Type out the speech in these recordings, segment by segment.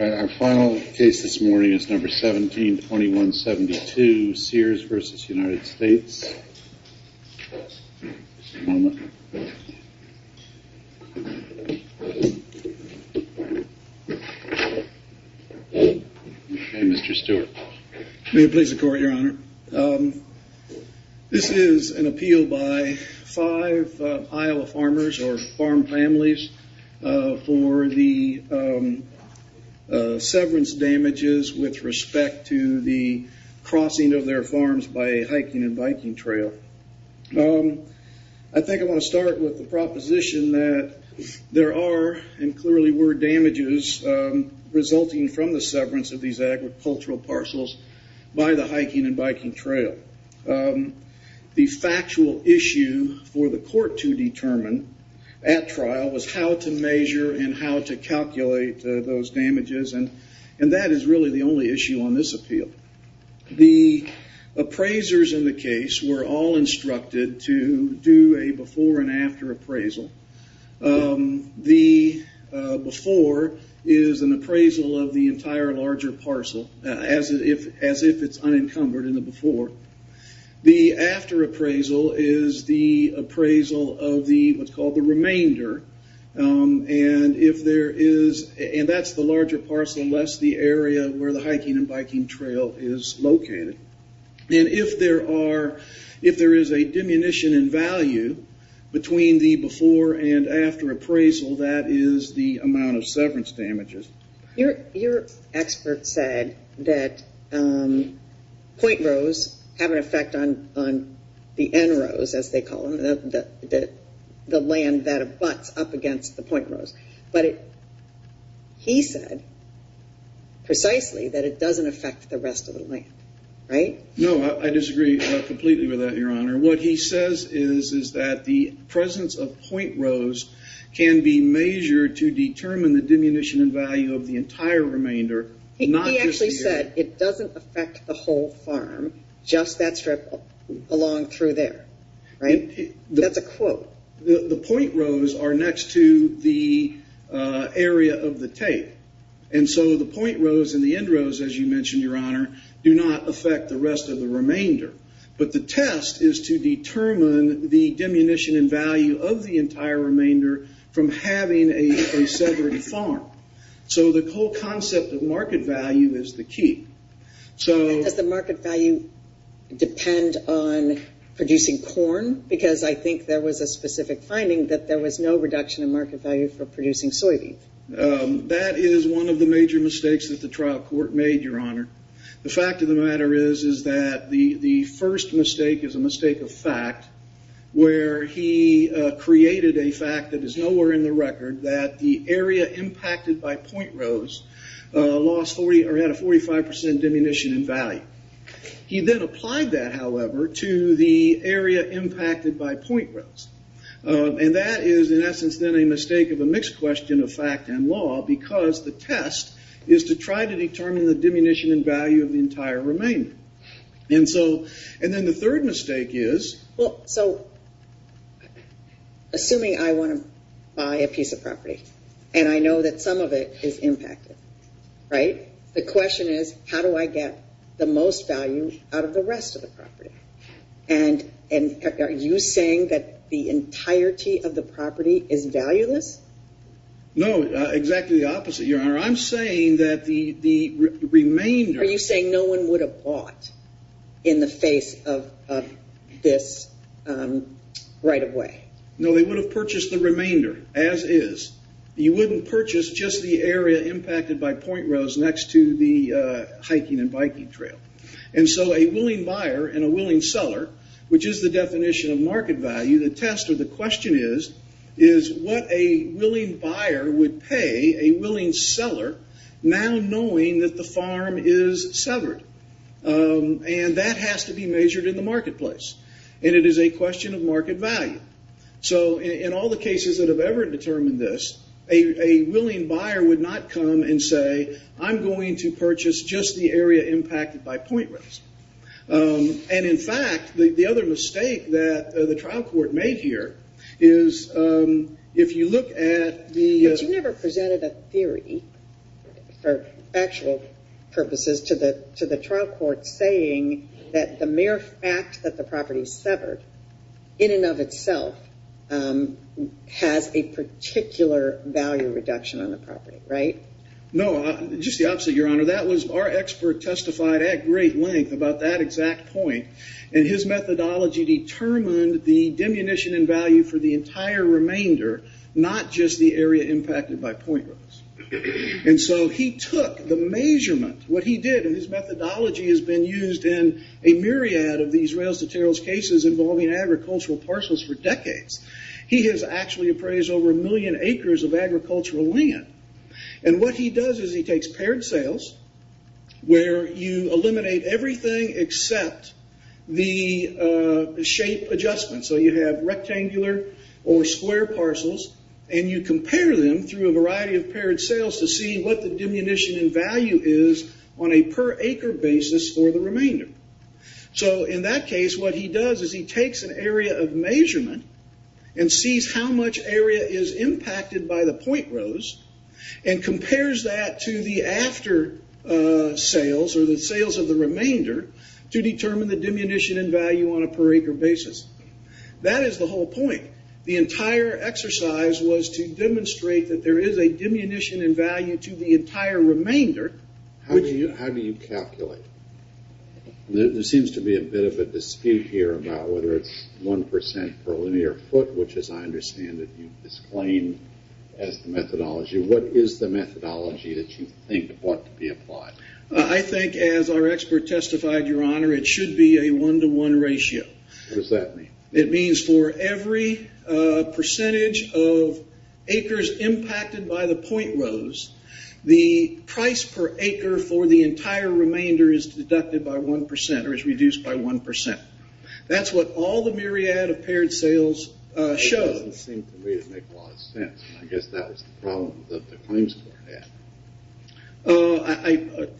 Our final case this morning is number 172172, Sears v. United States. May it please the Court, Your Honor. This is an appeal by five Iowa farmers or farm families for the severance damages with respect to the crossing of their farms by a hiking and biking trail. I think I want to start with the proposition that there are and clearly were damages resulting from the severance of these agricultural parcels by the hiking and biking trail. The factual issue for the court to determine at trial was how to measure and how to calculate those damages and that is really the only issue on this appeal. The appraisers in the case were all instructed to do a before and after appraisal. The before is an appraisal of the entire larger parcel as if it's unencumbered in the before. The after appraisal is the appraisal of what's called the remainder and that's the larger parcel less the area where the hiking and biking trail is located. If there is a diminution in value between the before and after appraisal, that is the amount of severance damages. Your expert said that point rows have an effect on the end rows as they call them, the land that abuts up against the point rows. But he said precisely that it doesn't affect the rest of the land, right? No, I disagree completely with that, Your Honor. What he says is that the presence of point rows can be measured to determine the diminution in value of the entire remainder. He actually said it doesn't affect the whole farm, just that strip along through there, right? That's a quote. The point rows are next to the area of the tape. The point rows and the end rows, as you mentioned, Your Honor, do not affect the rest of the remainder. But the test is to determine the diminution in value of the entire remainder from having a severed farm. The whole concept of market value is the key. Does the market value depend on producing corn? Because I think there was a specific finding that there was no reduction in market value for producing soybean. That is one of the major mistakes that the trial court made, Your Honor. The fact of the matter is that the first mistake is a mistake of fact, where he created a fact that is nowhere in the record that the area impacted by point rows had a 45% diminution in value. He then applied that, however, to the area impacted by point rows. And that is, in essence, then a mistake of a mixed question of fact and law because the test is to try to determine the diminution in value of the entire remainder. And then the third mistake is... Well, so, assuming I want to buy a piece of property and I know that some of it is impacted, right? The question is, how do I get the most value out of the rest of the property? And are you saying that the entirety of the property is valueless? No, exactly the opposite, Your Honor. I'm saying that the remainder... Are you saying no one would have bought in the face of this right away? No, they would have purchased the remainder as is. You wouldn't purchase just the area impacted by point rows next to the hiking and biking trail. And so a willing buyer and a willing seller, which is the definition of market value, the test or the question is, is what a willing buyer would pay a willing seller now knowing that the farm is severed? And that has to be measured in the marketplace. And it is a question of market value. So in all the cases that have ever determined this, a willing buyer would not come and say, I'm going to purchase just the area impacted by point rows. And, in fact, the other mistake that the trial court made here is if you look at the... But you never presented a theory, for factual purposes, to the trial court saying that the mere fact that the property is severed in and of itself has a particular value reduction on the property, right? No, just the opposite, Your Honor. That was our expert testified at great length about that exact point. And his methodology determined the diminution in value for the entire remainder, not just the area impacted by point rows. And so he took the measurement, what he did, and his methodology has been used in a myriad of these rails-to-trails cases involving agricultural parcels for decades. He has actually appraised over a million acres of agricultural land. And what he does is he takes paired sales, where you eliminate everything except the shape adjustment. So you have rectangular or square parcels, and you compare them through a variety of paired sales to see what the diminution in value is on a per acre basis for the remainder. So, in that case, what he does is he takes an area of measurement and sees how much area is impacted by the point rows and compares that to the after sales or the sales of the remainder to determine the diminution in value on a per acre basis. That is the whole point. The entire exercise was to demonstrate that there is a diminution in value to the entire remainder. How do you calculate? There seems to be a bit of a dispute here about whether it's 1% per linear foot, which, as I understand it, you've disclaimed as the methodology. What is the methodology that you think ought to be applied? I think, as our expert testified, Your Honor, it should be a one-to-one ratio. What does that mean? It means for every percentage of acres impacted by the point rows, the price per acre for the entire remainder is deducted by 1% or is reduced by 1%. That's what all the myriad of paired sales show. It doesn't seem to me to make a lot of sense. I guess that was the problem that the claims court had.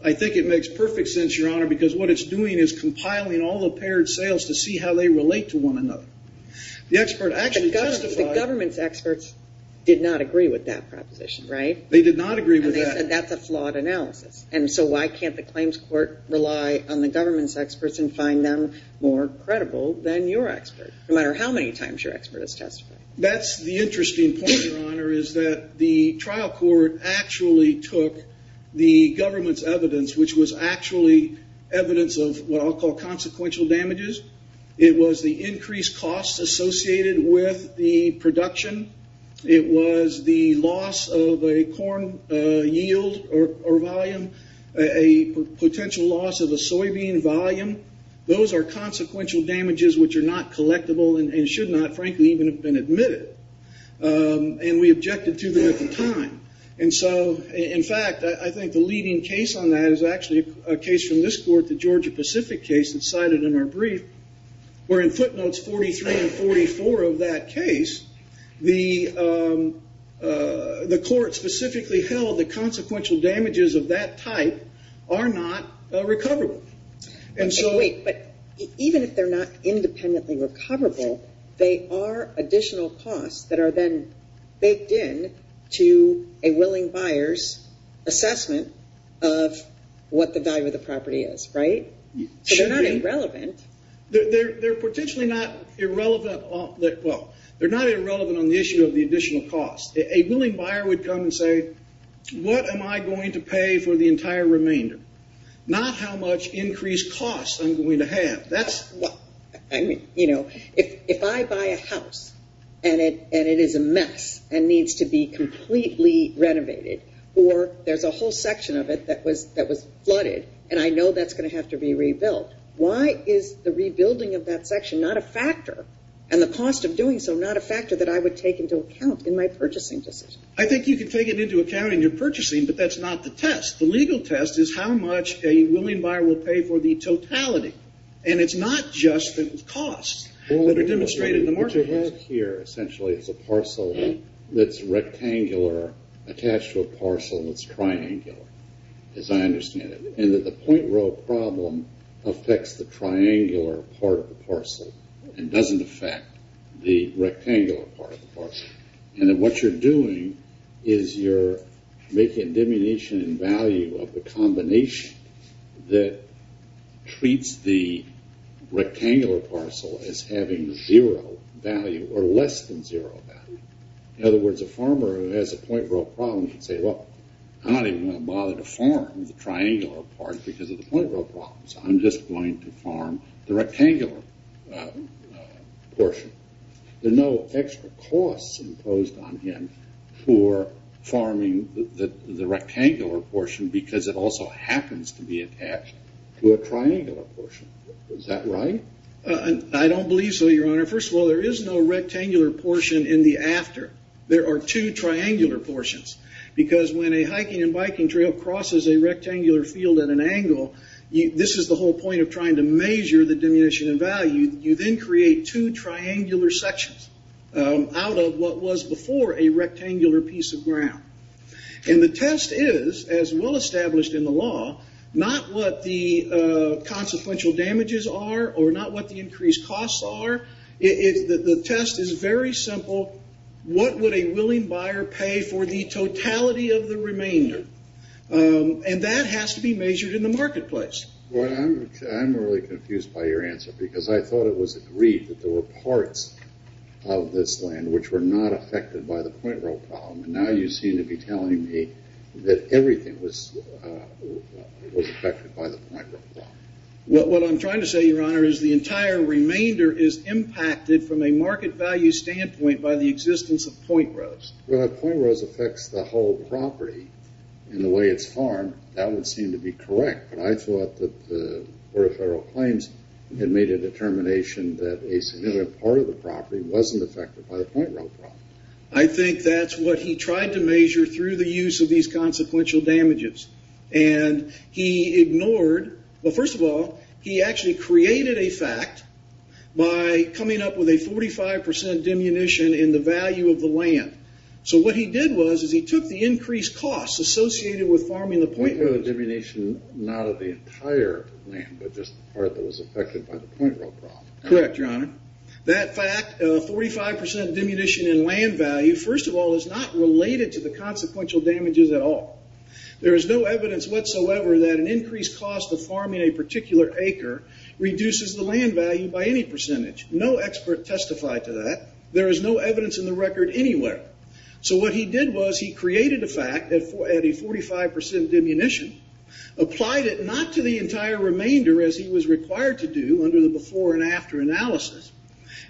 I think it makes perfect sense, Your Honor, because what it's doing is compiling all the paired sales to see how they relate to one another. The government's experts did not agree with that proposition, right? They did not agree with that. That's a flawed analysis. So why can't the claims court rely on the government's experts and find them more credible than your expert, no matter how many times your expert has testified? That's the interesting point, Your Honor, is that the trial court actually took the government's evidence, which was actually evidence of what I'll call consequential damages. It was the increased costs associated with the production. It was the loss of a corn yield or volume, a potential loss of a soybean volume. Those are consequential damages which are not collectible and should not, frankly, even have been admitted. And we objected to them at the time. And so, in fact, I think the leading case on that is actually a case from this court, the Georgia-Pacific case that's cited in our brief, where in footnotes 43 and 44 of that case, the court specifically held that consequential damages of that type are not recoverable. Wait, but even if they're not independently recoverable, they are additional costs that are then baked in to a willing buyer's assessment of what the value of the property is, right? So they're not irrelevant. They're potentially not irrelevant. Well, they're not irrelevant on the issue of the additional costs. A willing buyer would come and say, what am I going to pay for the entire remainder, not how much increased costs I'm going to have. I mean, you know, if I buy a house and it is a mess and needs to be completely renovated or there's a whole section of it that was flooded and I know that's going to have to be rebuilt, why is the rebuilding of that section not a factor and the cost of doing so not a factor that I would take into account in my purchasing decision? I think you can take it into account in your purchasing, but that's not the test. The legal test is how much a willing buyer will pay for the totality. And it's not just the costs that are demonstrated in the market. What you have here, essentially, is a parcel that's rectangular attached to a parcel that's triangular, as I understand it. And that the point row problem affects the triangular part of the parcel and doesn't affect the rectangular part of the parcel. And then what you're doing is you're making a diminution in value of the combination that treats the rectangular parcel as having zero value or less than zero value. In other words, a farmer who has a point row problem can say, well, I'm not even going to bother to farm the triangular part because of the point row problems. I'm just going to farm the rectangular portion. There are no extra costs imposed on him for farming the rectangular portion because it also happens to be attached to a triangular portion. Is that right? I don't believe so, Your Honor. First of all, there is no rectangular portion in the after. There are two triangular portions because when a hiking and biking trail crosses a rectangular field at an angle, this is the whole point of trying to measure the diminution in value. You then create two triangular sections out of what was before a rectangular piece of ground. And the test is, as well established in the law, not what the consequential damages are or not what the increased costs are. The test is very simple. What would a willing buyer pay for the totality of the remainder? And that has to be measured in the marketplace. Well, I'm really confused by your answer because I thought it was agreed that there were parts of this land which were not affected by the point row problem. Now you seem to be telling me that everything was affected by the point row problem. What I'm trying to say, Your Honor, is the entire remainder is impacted from a market value standpoint by the existence of point rows. Well, if point rows affects the whole property in the way it's farmed, that would seem to be correct. But I thought that the Board of Federal Claims had made a determination that a significant part of the property wasn't affected by the point row problem. I think that's what he tried to measure through the use of these consequential damages. And he ignored... Well, first of all, he actually created a fact by coming up with a 45% diminution in the value of the land. So what he did was he took the increased costs associated with farming the point rows... The diminution not of the entire land, but just the part that was affected by the point row problem. Correct, Your Honor. That fact, a 45% diminution in land value, first of all, is not related to the consequential damages at all. There is no evidence whatsoever that an increased cost of farming a particular acre reduces the land value by any percentage. No expert testified to that. There is no evidence in the record anywhere. So what he did was he created a fact at a 45% diminution, applied it not to the entire remainder, as he was required to do under the before and after analysis,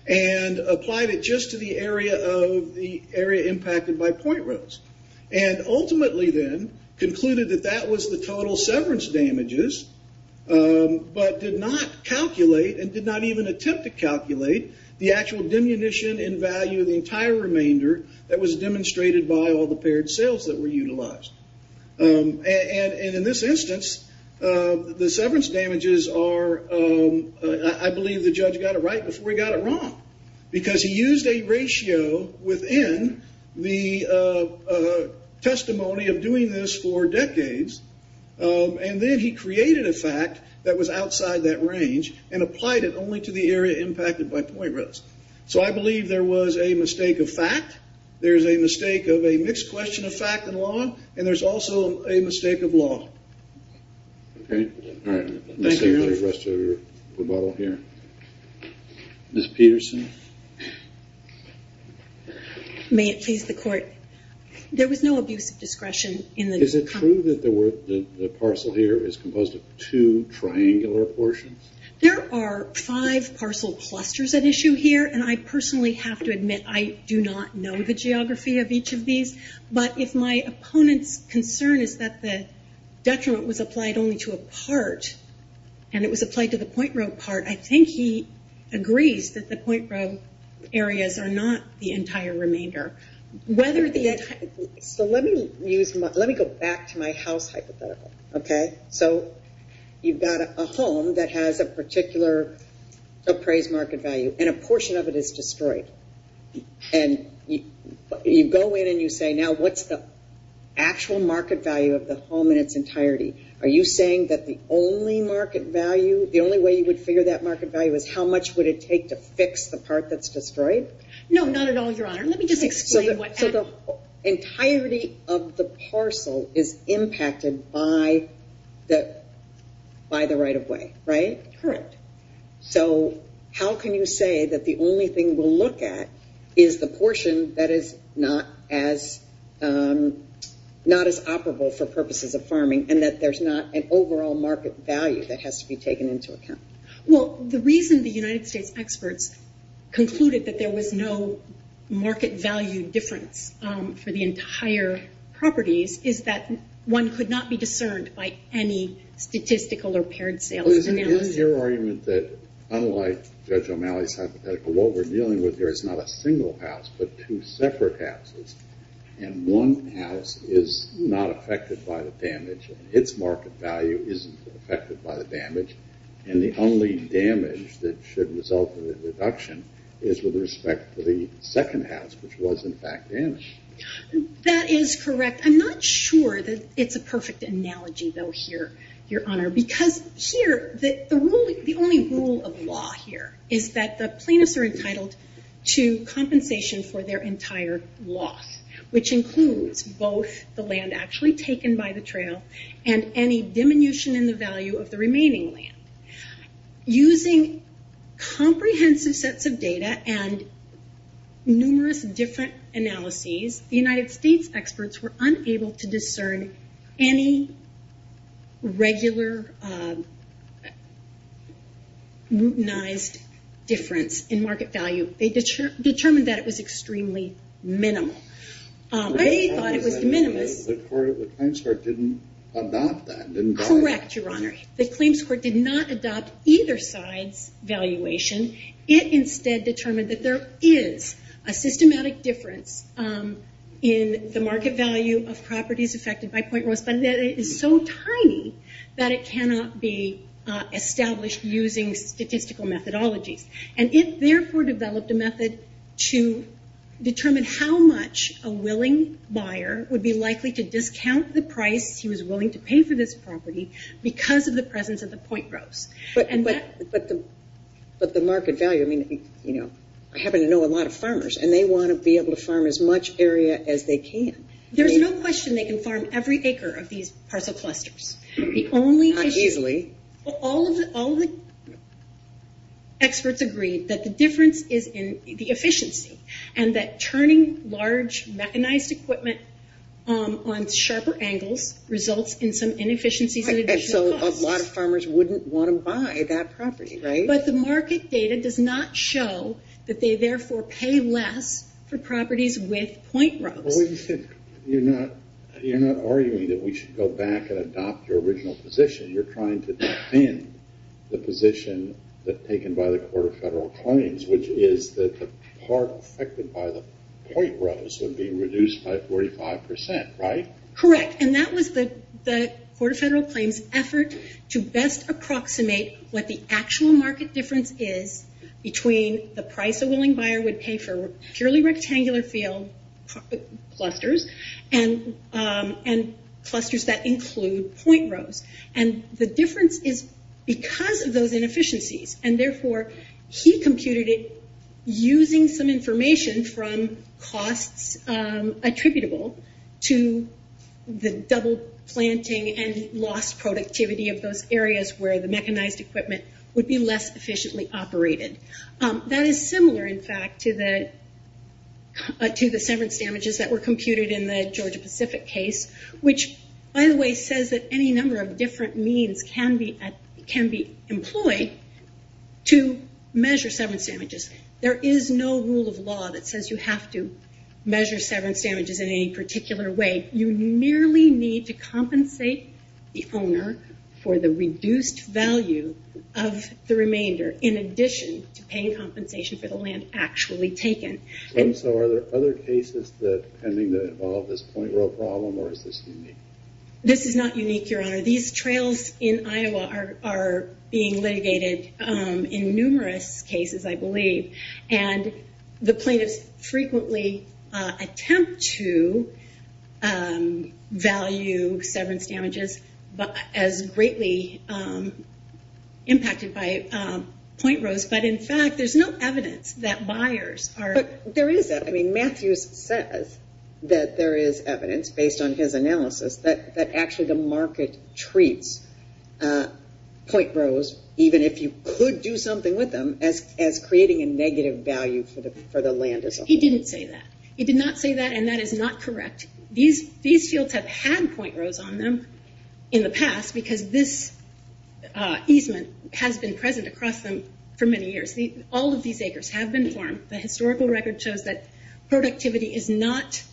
and applied it just to the area impacted by point rows. And ultimately then, concluded that that was the total severance damages, but did not calculate and did not even attempt to calculate the actual diminution in value of the entire remainder that was demonstrated by all the paired sales that were utilized. And in this instance, the severance damages are... I believe the judge got it right before he got it wrong, because he used a ratio within the testimony of doing this for decades, and then he created a fact that was outside that range and applied it only to the area impacted by point rows. So I believe there was a mistake of fact, there's a mistake of a mixed question of fact and law, and there's also a mistake of law. Okay. All right. Thank you for the rest of your rebuttal here. Ms. Peterson. May it please the court. There was no abuse of discretion in the... Is it true that the parcel here is composed of two triangular portions? There are five parcel clusters at issue here, and I personally have to admit I do not know the geography of each of these, but if my opponent's concern is that the detriment was applied only to a part, and it was applied to the point row part, I think he agrees that the point row areas are not the entire remainder. So let me go back to my house hypothetical, okay? So you've got a home that has a particular appraised market value, and a portion of it is destroyed. And you go in and you say, now what's the actual market value of the home in its entirety? Are you saying that the only market value, the only way you would figure that market value is how much would it take to fix the part that's destroyed? No, not at all, Your Honor. Let me just explain what... So the entirety of the parcel is impacted by the right-of-way, right? Correct. So how can you say that the only thing we'll look at is the portion that is not as operable for purposes of farming, and that there's not an overall market value that has to be taken into account? Well, the reason the United States experts concluded that there was no market value difference for the entire properties is that one could not be discerned by any statistical or paired sales analysis. Isn't your argument that unlike Judge O'Malley's hypothetical, what we're dealing with here is not a single house, but two separate houses, and one house is not affected by the damage, and its market value isn't affected by the damage, and the only damage that should result in a reduction is with respect to the second house, which was, in fact, damaged? That is correct. I'm not sure that it's a perfect analogy, though, here, Your Honor, because here the only rule of law here is that the plaintiffs are entitled to which includes both the land actually taken by the trail and any diminution in the value of the remaining land. Using comprehensive sets of data and numerous different analyses, the United States experts were unable to discern any regular mutinized difference in market value. They determined that it was extremely minimal. They thought it was minimal. The claims court didn't adopt that, didn't buy it. Correct, Your Honor. The claims court did not adopt either side's valuation. It instead determined that there is a systematic difference in the market value of properties affected by point growth, but that it is so tiny that it cannot be established using statistical methodologies. And it, therefore, developed a method to determine how much a willing buyer would be likely to discount the price he was willing to pay for this property because of the presence of the point growth. But the market value, I mean, I happen to know a lot of farmers, and they want to be able to farm as much area as they can. There's no question they can farm every acre of these parcel clusters. Not easily. All of the experts agreed that the difference is in the efficiency and that turning large mechanized equipment on sharper angles results in some inefficiencies and additional costs. So a lot of farmers wouldn't want to buy that property, right? But the market data does not show that they, therefore, pay less for properties with point growth. You're not arguing that we should go back and adopt your original position. You're trying to defend the position taken by the Court of Federal Claims, which is that the part affected by the point growth would be reduced by 45%, right? Correct. And that was the Court of Federal Claims' effort to best approximate what the actual market difference is between the price a willing buyer would pay for a purely rectangular field clusters and clusters that include point growth. And the difference is because of those inefficiencies, and, therefore, he computed it using some information from costs attributable to the double planting and lost productivity of those areas where the mechanized equipment would be less efficiently operated. That is similar, in fact, to the severance damages that were computed in the Georgia-Pacific case, which, by the way, says that any number of different means can be employed to measure severance damages. There is no rule of law that says you have to measure severance damages in any particular way. You merely need to compensate the owner for the reduced value of the remainder in addition to paying compensation for the land actually taken. And so are there other cases pending that involve this point growth problem, or is this unique? This is not unique, Your Honor. These trails in Iowa are being litigated in numerous cases, I believe, and the plaintiffs frequently attempt to value severance damages as greatly impacted by point growth. But, in fact, there's no evidence that buyers are. But there is evidence. Matthews says that there is evidence, based on his analysis, that actually the market treats point growth, even if you could do something with them, as creating a negative value for the land itself. He didn't say that. He did not say that, and that is not correct. These fields have had point growth on them in the past, because this easement has been present across them for many years. All of these acres have been farmed. The historical record shows that productivity is less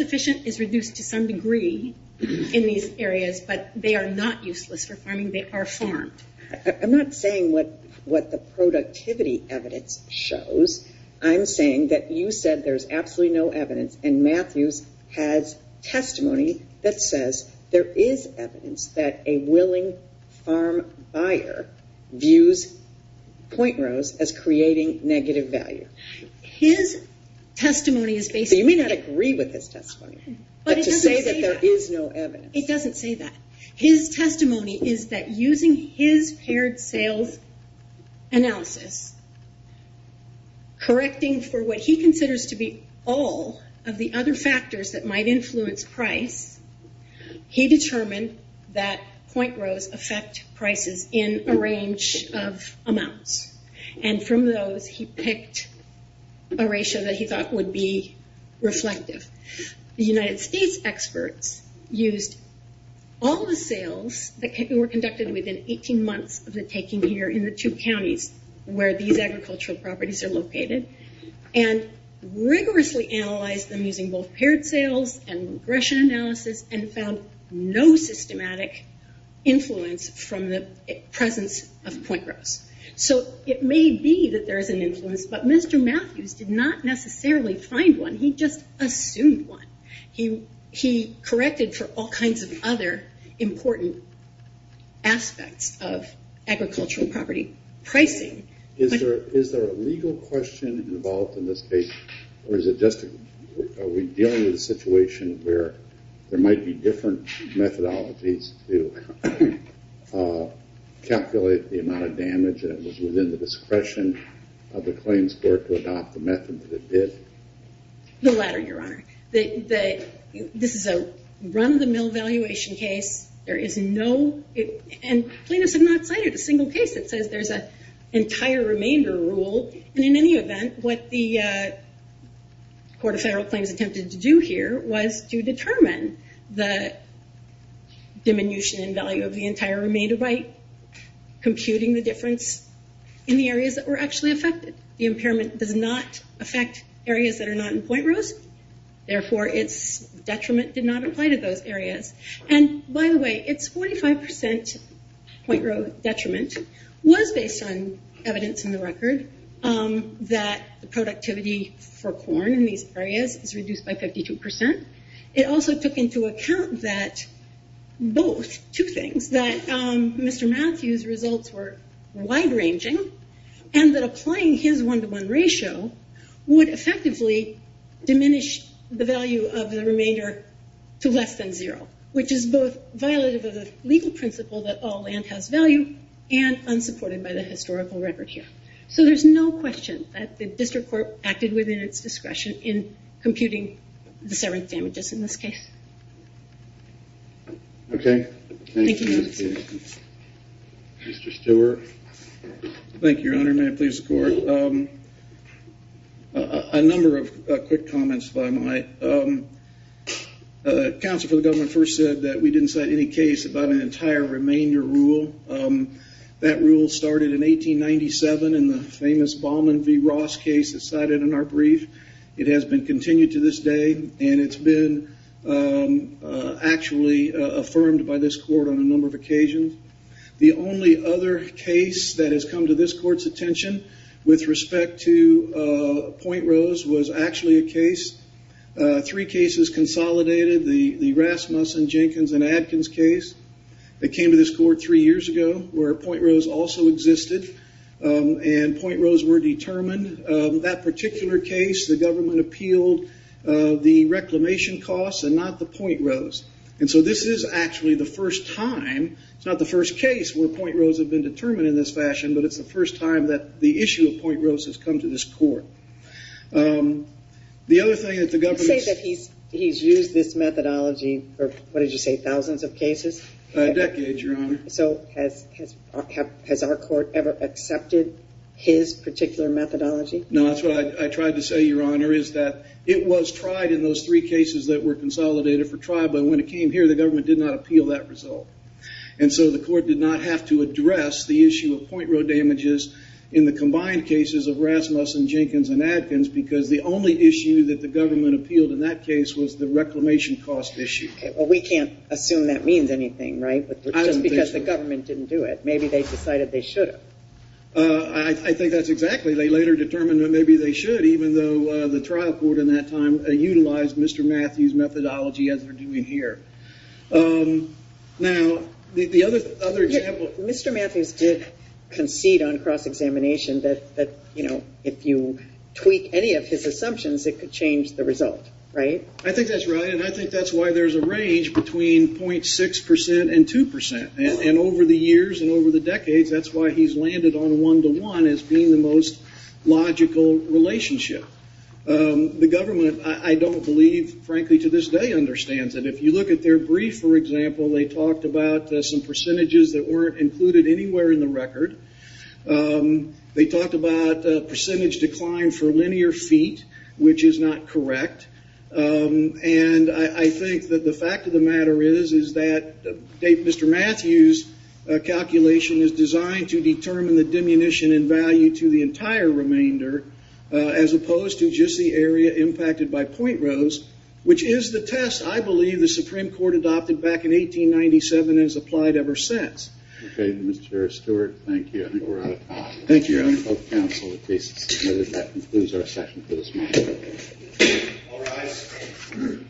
efficient, is reduced to some degree in these areas, but they are not useless for farming. They are farmed. I'm not saying what the productivity evidence shows. I'm saying that you said there's absolutely no evidence, and Matthews has testimony that says there is evidence that a willing farm buyer views point growth as creating negative value. His testimony is based on- You may not agree with his testimony. But it doesn't say that. But to say that there is no evidence. It doesn't say that. His testimony is that using his paired sales analysis, correcting for what he considers to be all of the other factors that might influence price, he determined that point growths affect prices in a range of amounts. And from those, he picked a ratio that he thought would be reflective. The United States experts used all the sales that were conducted within 18 months of the taking here in the two counties where these agricultural properties are located, and rigorously analyzed them using both paired sales and regression analysis, and found no systematic influence from the presence of point growths. So it may be that there is an influence, but Mr. Matthews did not necessarily find one. He just assumed one. He corrected for all kinds of other important aspects of agricultural property pricing. Is there a legal question involved in this case, or is it just are we dealing with a situation where there might be different methodologies to calculate the amount of damage that was within the discretion of the claims court to adopt the method that it did? No latter, Your Honor. This is a run-of-the-mill valuation case. There is no, and plaintiffs have not cited a single case that says there's an entire remainder rule. And in any event, what the Court of Federal Claims attempted to do here was to determine the diminution in value of the entire remainder by computing the difference in the areas that were actually affected. The impairment does not affect areas that are not in point growths. Therefore, its detriment did not apply to those areas. And by the way, its 45% point growth detriment was based on evidence in the record that the productivity for corn in these areas is reduced by 52%. It also took into account that both, two things, that Mr. Matthews' results were wide-ranging and that applying his one-to-one ratio would effectively diminish the value of the remainder to less than zero, which is both violative of the legal principle that all land has value and unsupported by the historical record here. So there's no question that the district court acted within its discretion in computing the severance damages in this case. Okay. Thank you, Matthews. Mr. Stewart. Thank you, Your Honor. May it please the Court. A number of quick comments if I might. Counsel for the government first said that we didn't cite any case about an entire remainder rule. That rule started in 1897 in the famous Balman v. Ross case that's cited in our brief. It has been continued to this day, and it's been actually affirmed by this court on a number of occasions. The only other case that has come to this court's attention with respect to Point Rose was actually a case, three cases consolidated, the Rasmussen, Jenkins, and Adkins case that came to this court three years ago where Point Rose also existed, and Point Rose were determined. That particular case, the government appealed the reclamation costs and not the Point Rose. And so this is actually the first time, it's not the first case where Point Rose had been determined in this fashion, but it's the first time that the issue of Point Rose has come to this court. The other thing that the government – You say that he's used this methodology for, what did you say, thousands of cases? Decades, Your Honor. So has our court ever accepted his particular methodology? No, that's what I tried to say, Your Honor, is that it was tried in those three cases that were consolidated for trial, but when it came here, the government did not appeal that result. And so the court did not have to address the issue of Point Rose damages in the combined cases of Rasmussen, Jenkins, and Adkins because the only issue that the government appealed in that case was the reclamation cost issue. Well, we can't assume that means anything, right? Just because the government didn't do it, maybe they decided they should have. I think that's exactly – they later determined that maybe they should, even though the trial court in that time utilized Mr. Matthews' methodology as they're doing here. Now, the other example – Mr. Matthews did concede on cross-examination that, you know, if you tweak any of his assumptions, it could change the result, right? I think that's right, and I think that's why there's a range between 0.6% and 2%. And over the years and over the decades, that's why he's landed on one-to-one as being the most logical relationship. The government, I don't believe, frankly, to this day understands it. If you look at their brief, for example, they talked about some percentages that weren't included anywhere in the record. They talked about percentage decline for linear feet, which is not correct. And I think that the fact of the matter is that Mr. Matthews' calculation is designed to determine the diminution in value to the entire remainder as opposed to just the area impacted by point rows, which is the test, I believe, the Supreme Court adopted back in 1897 and has applied ever since. Okay, Mr. Stewart, thank you. I think we're out of time. Thank you. That concludes our session for this morning.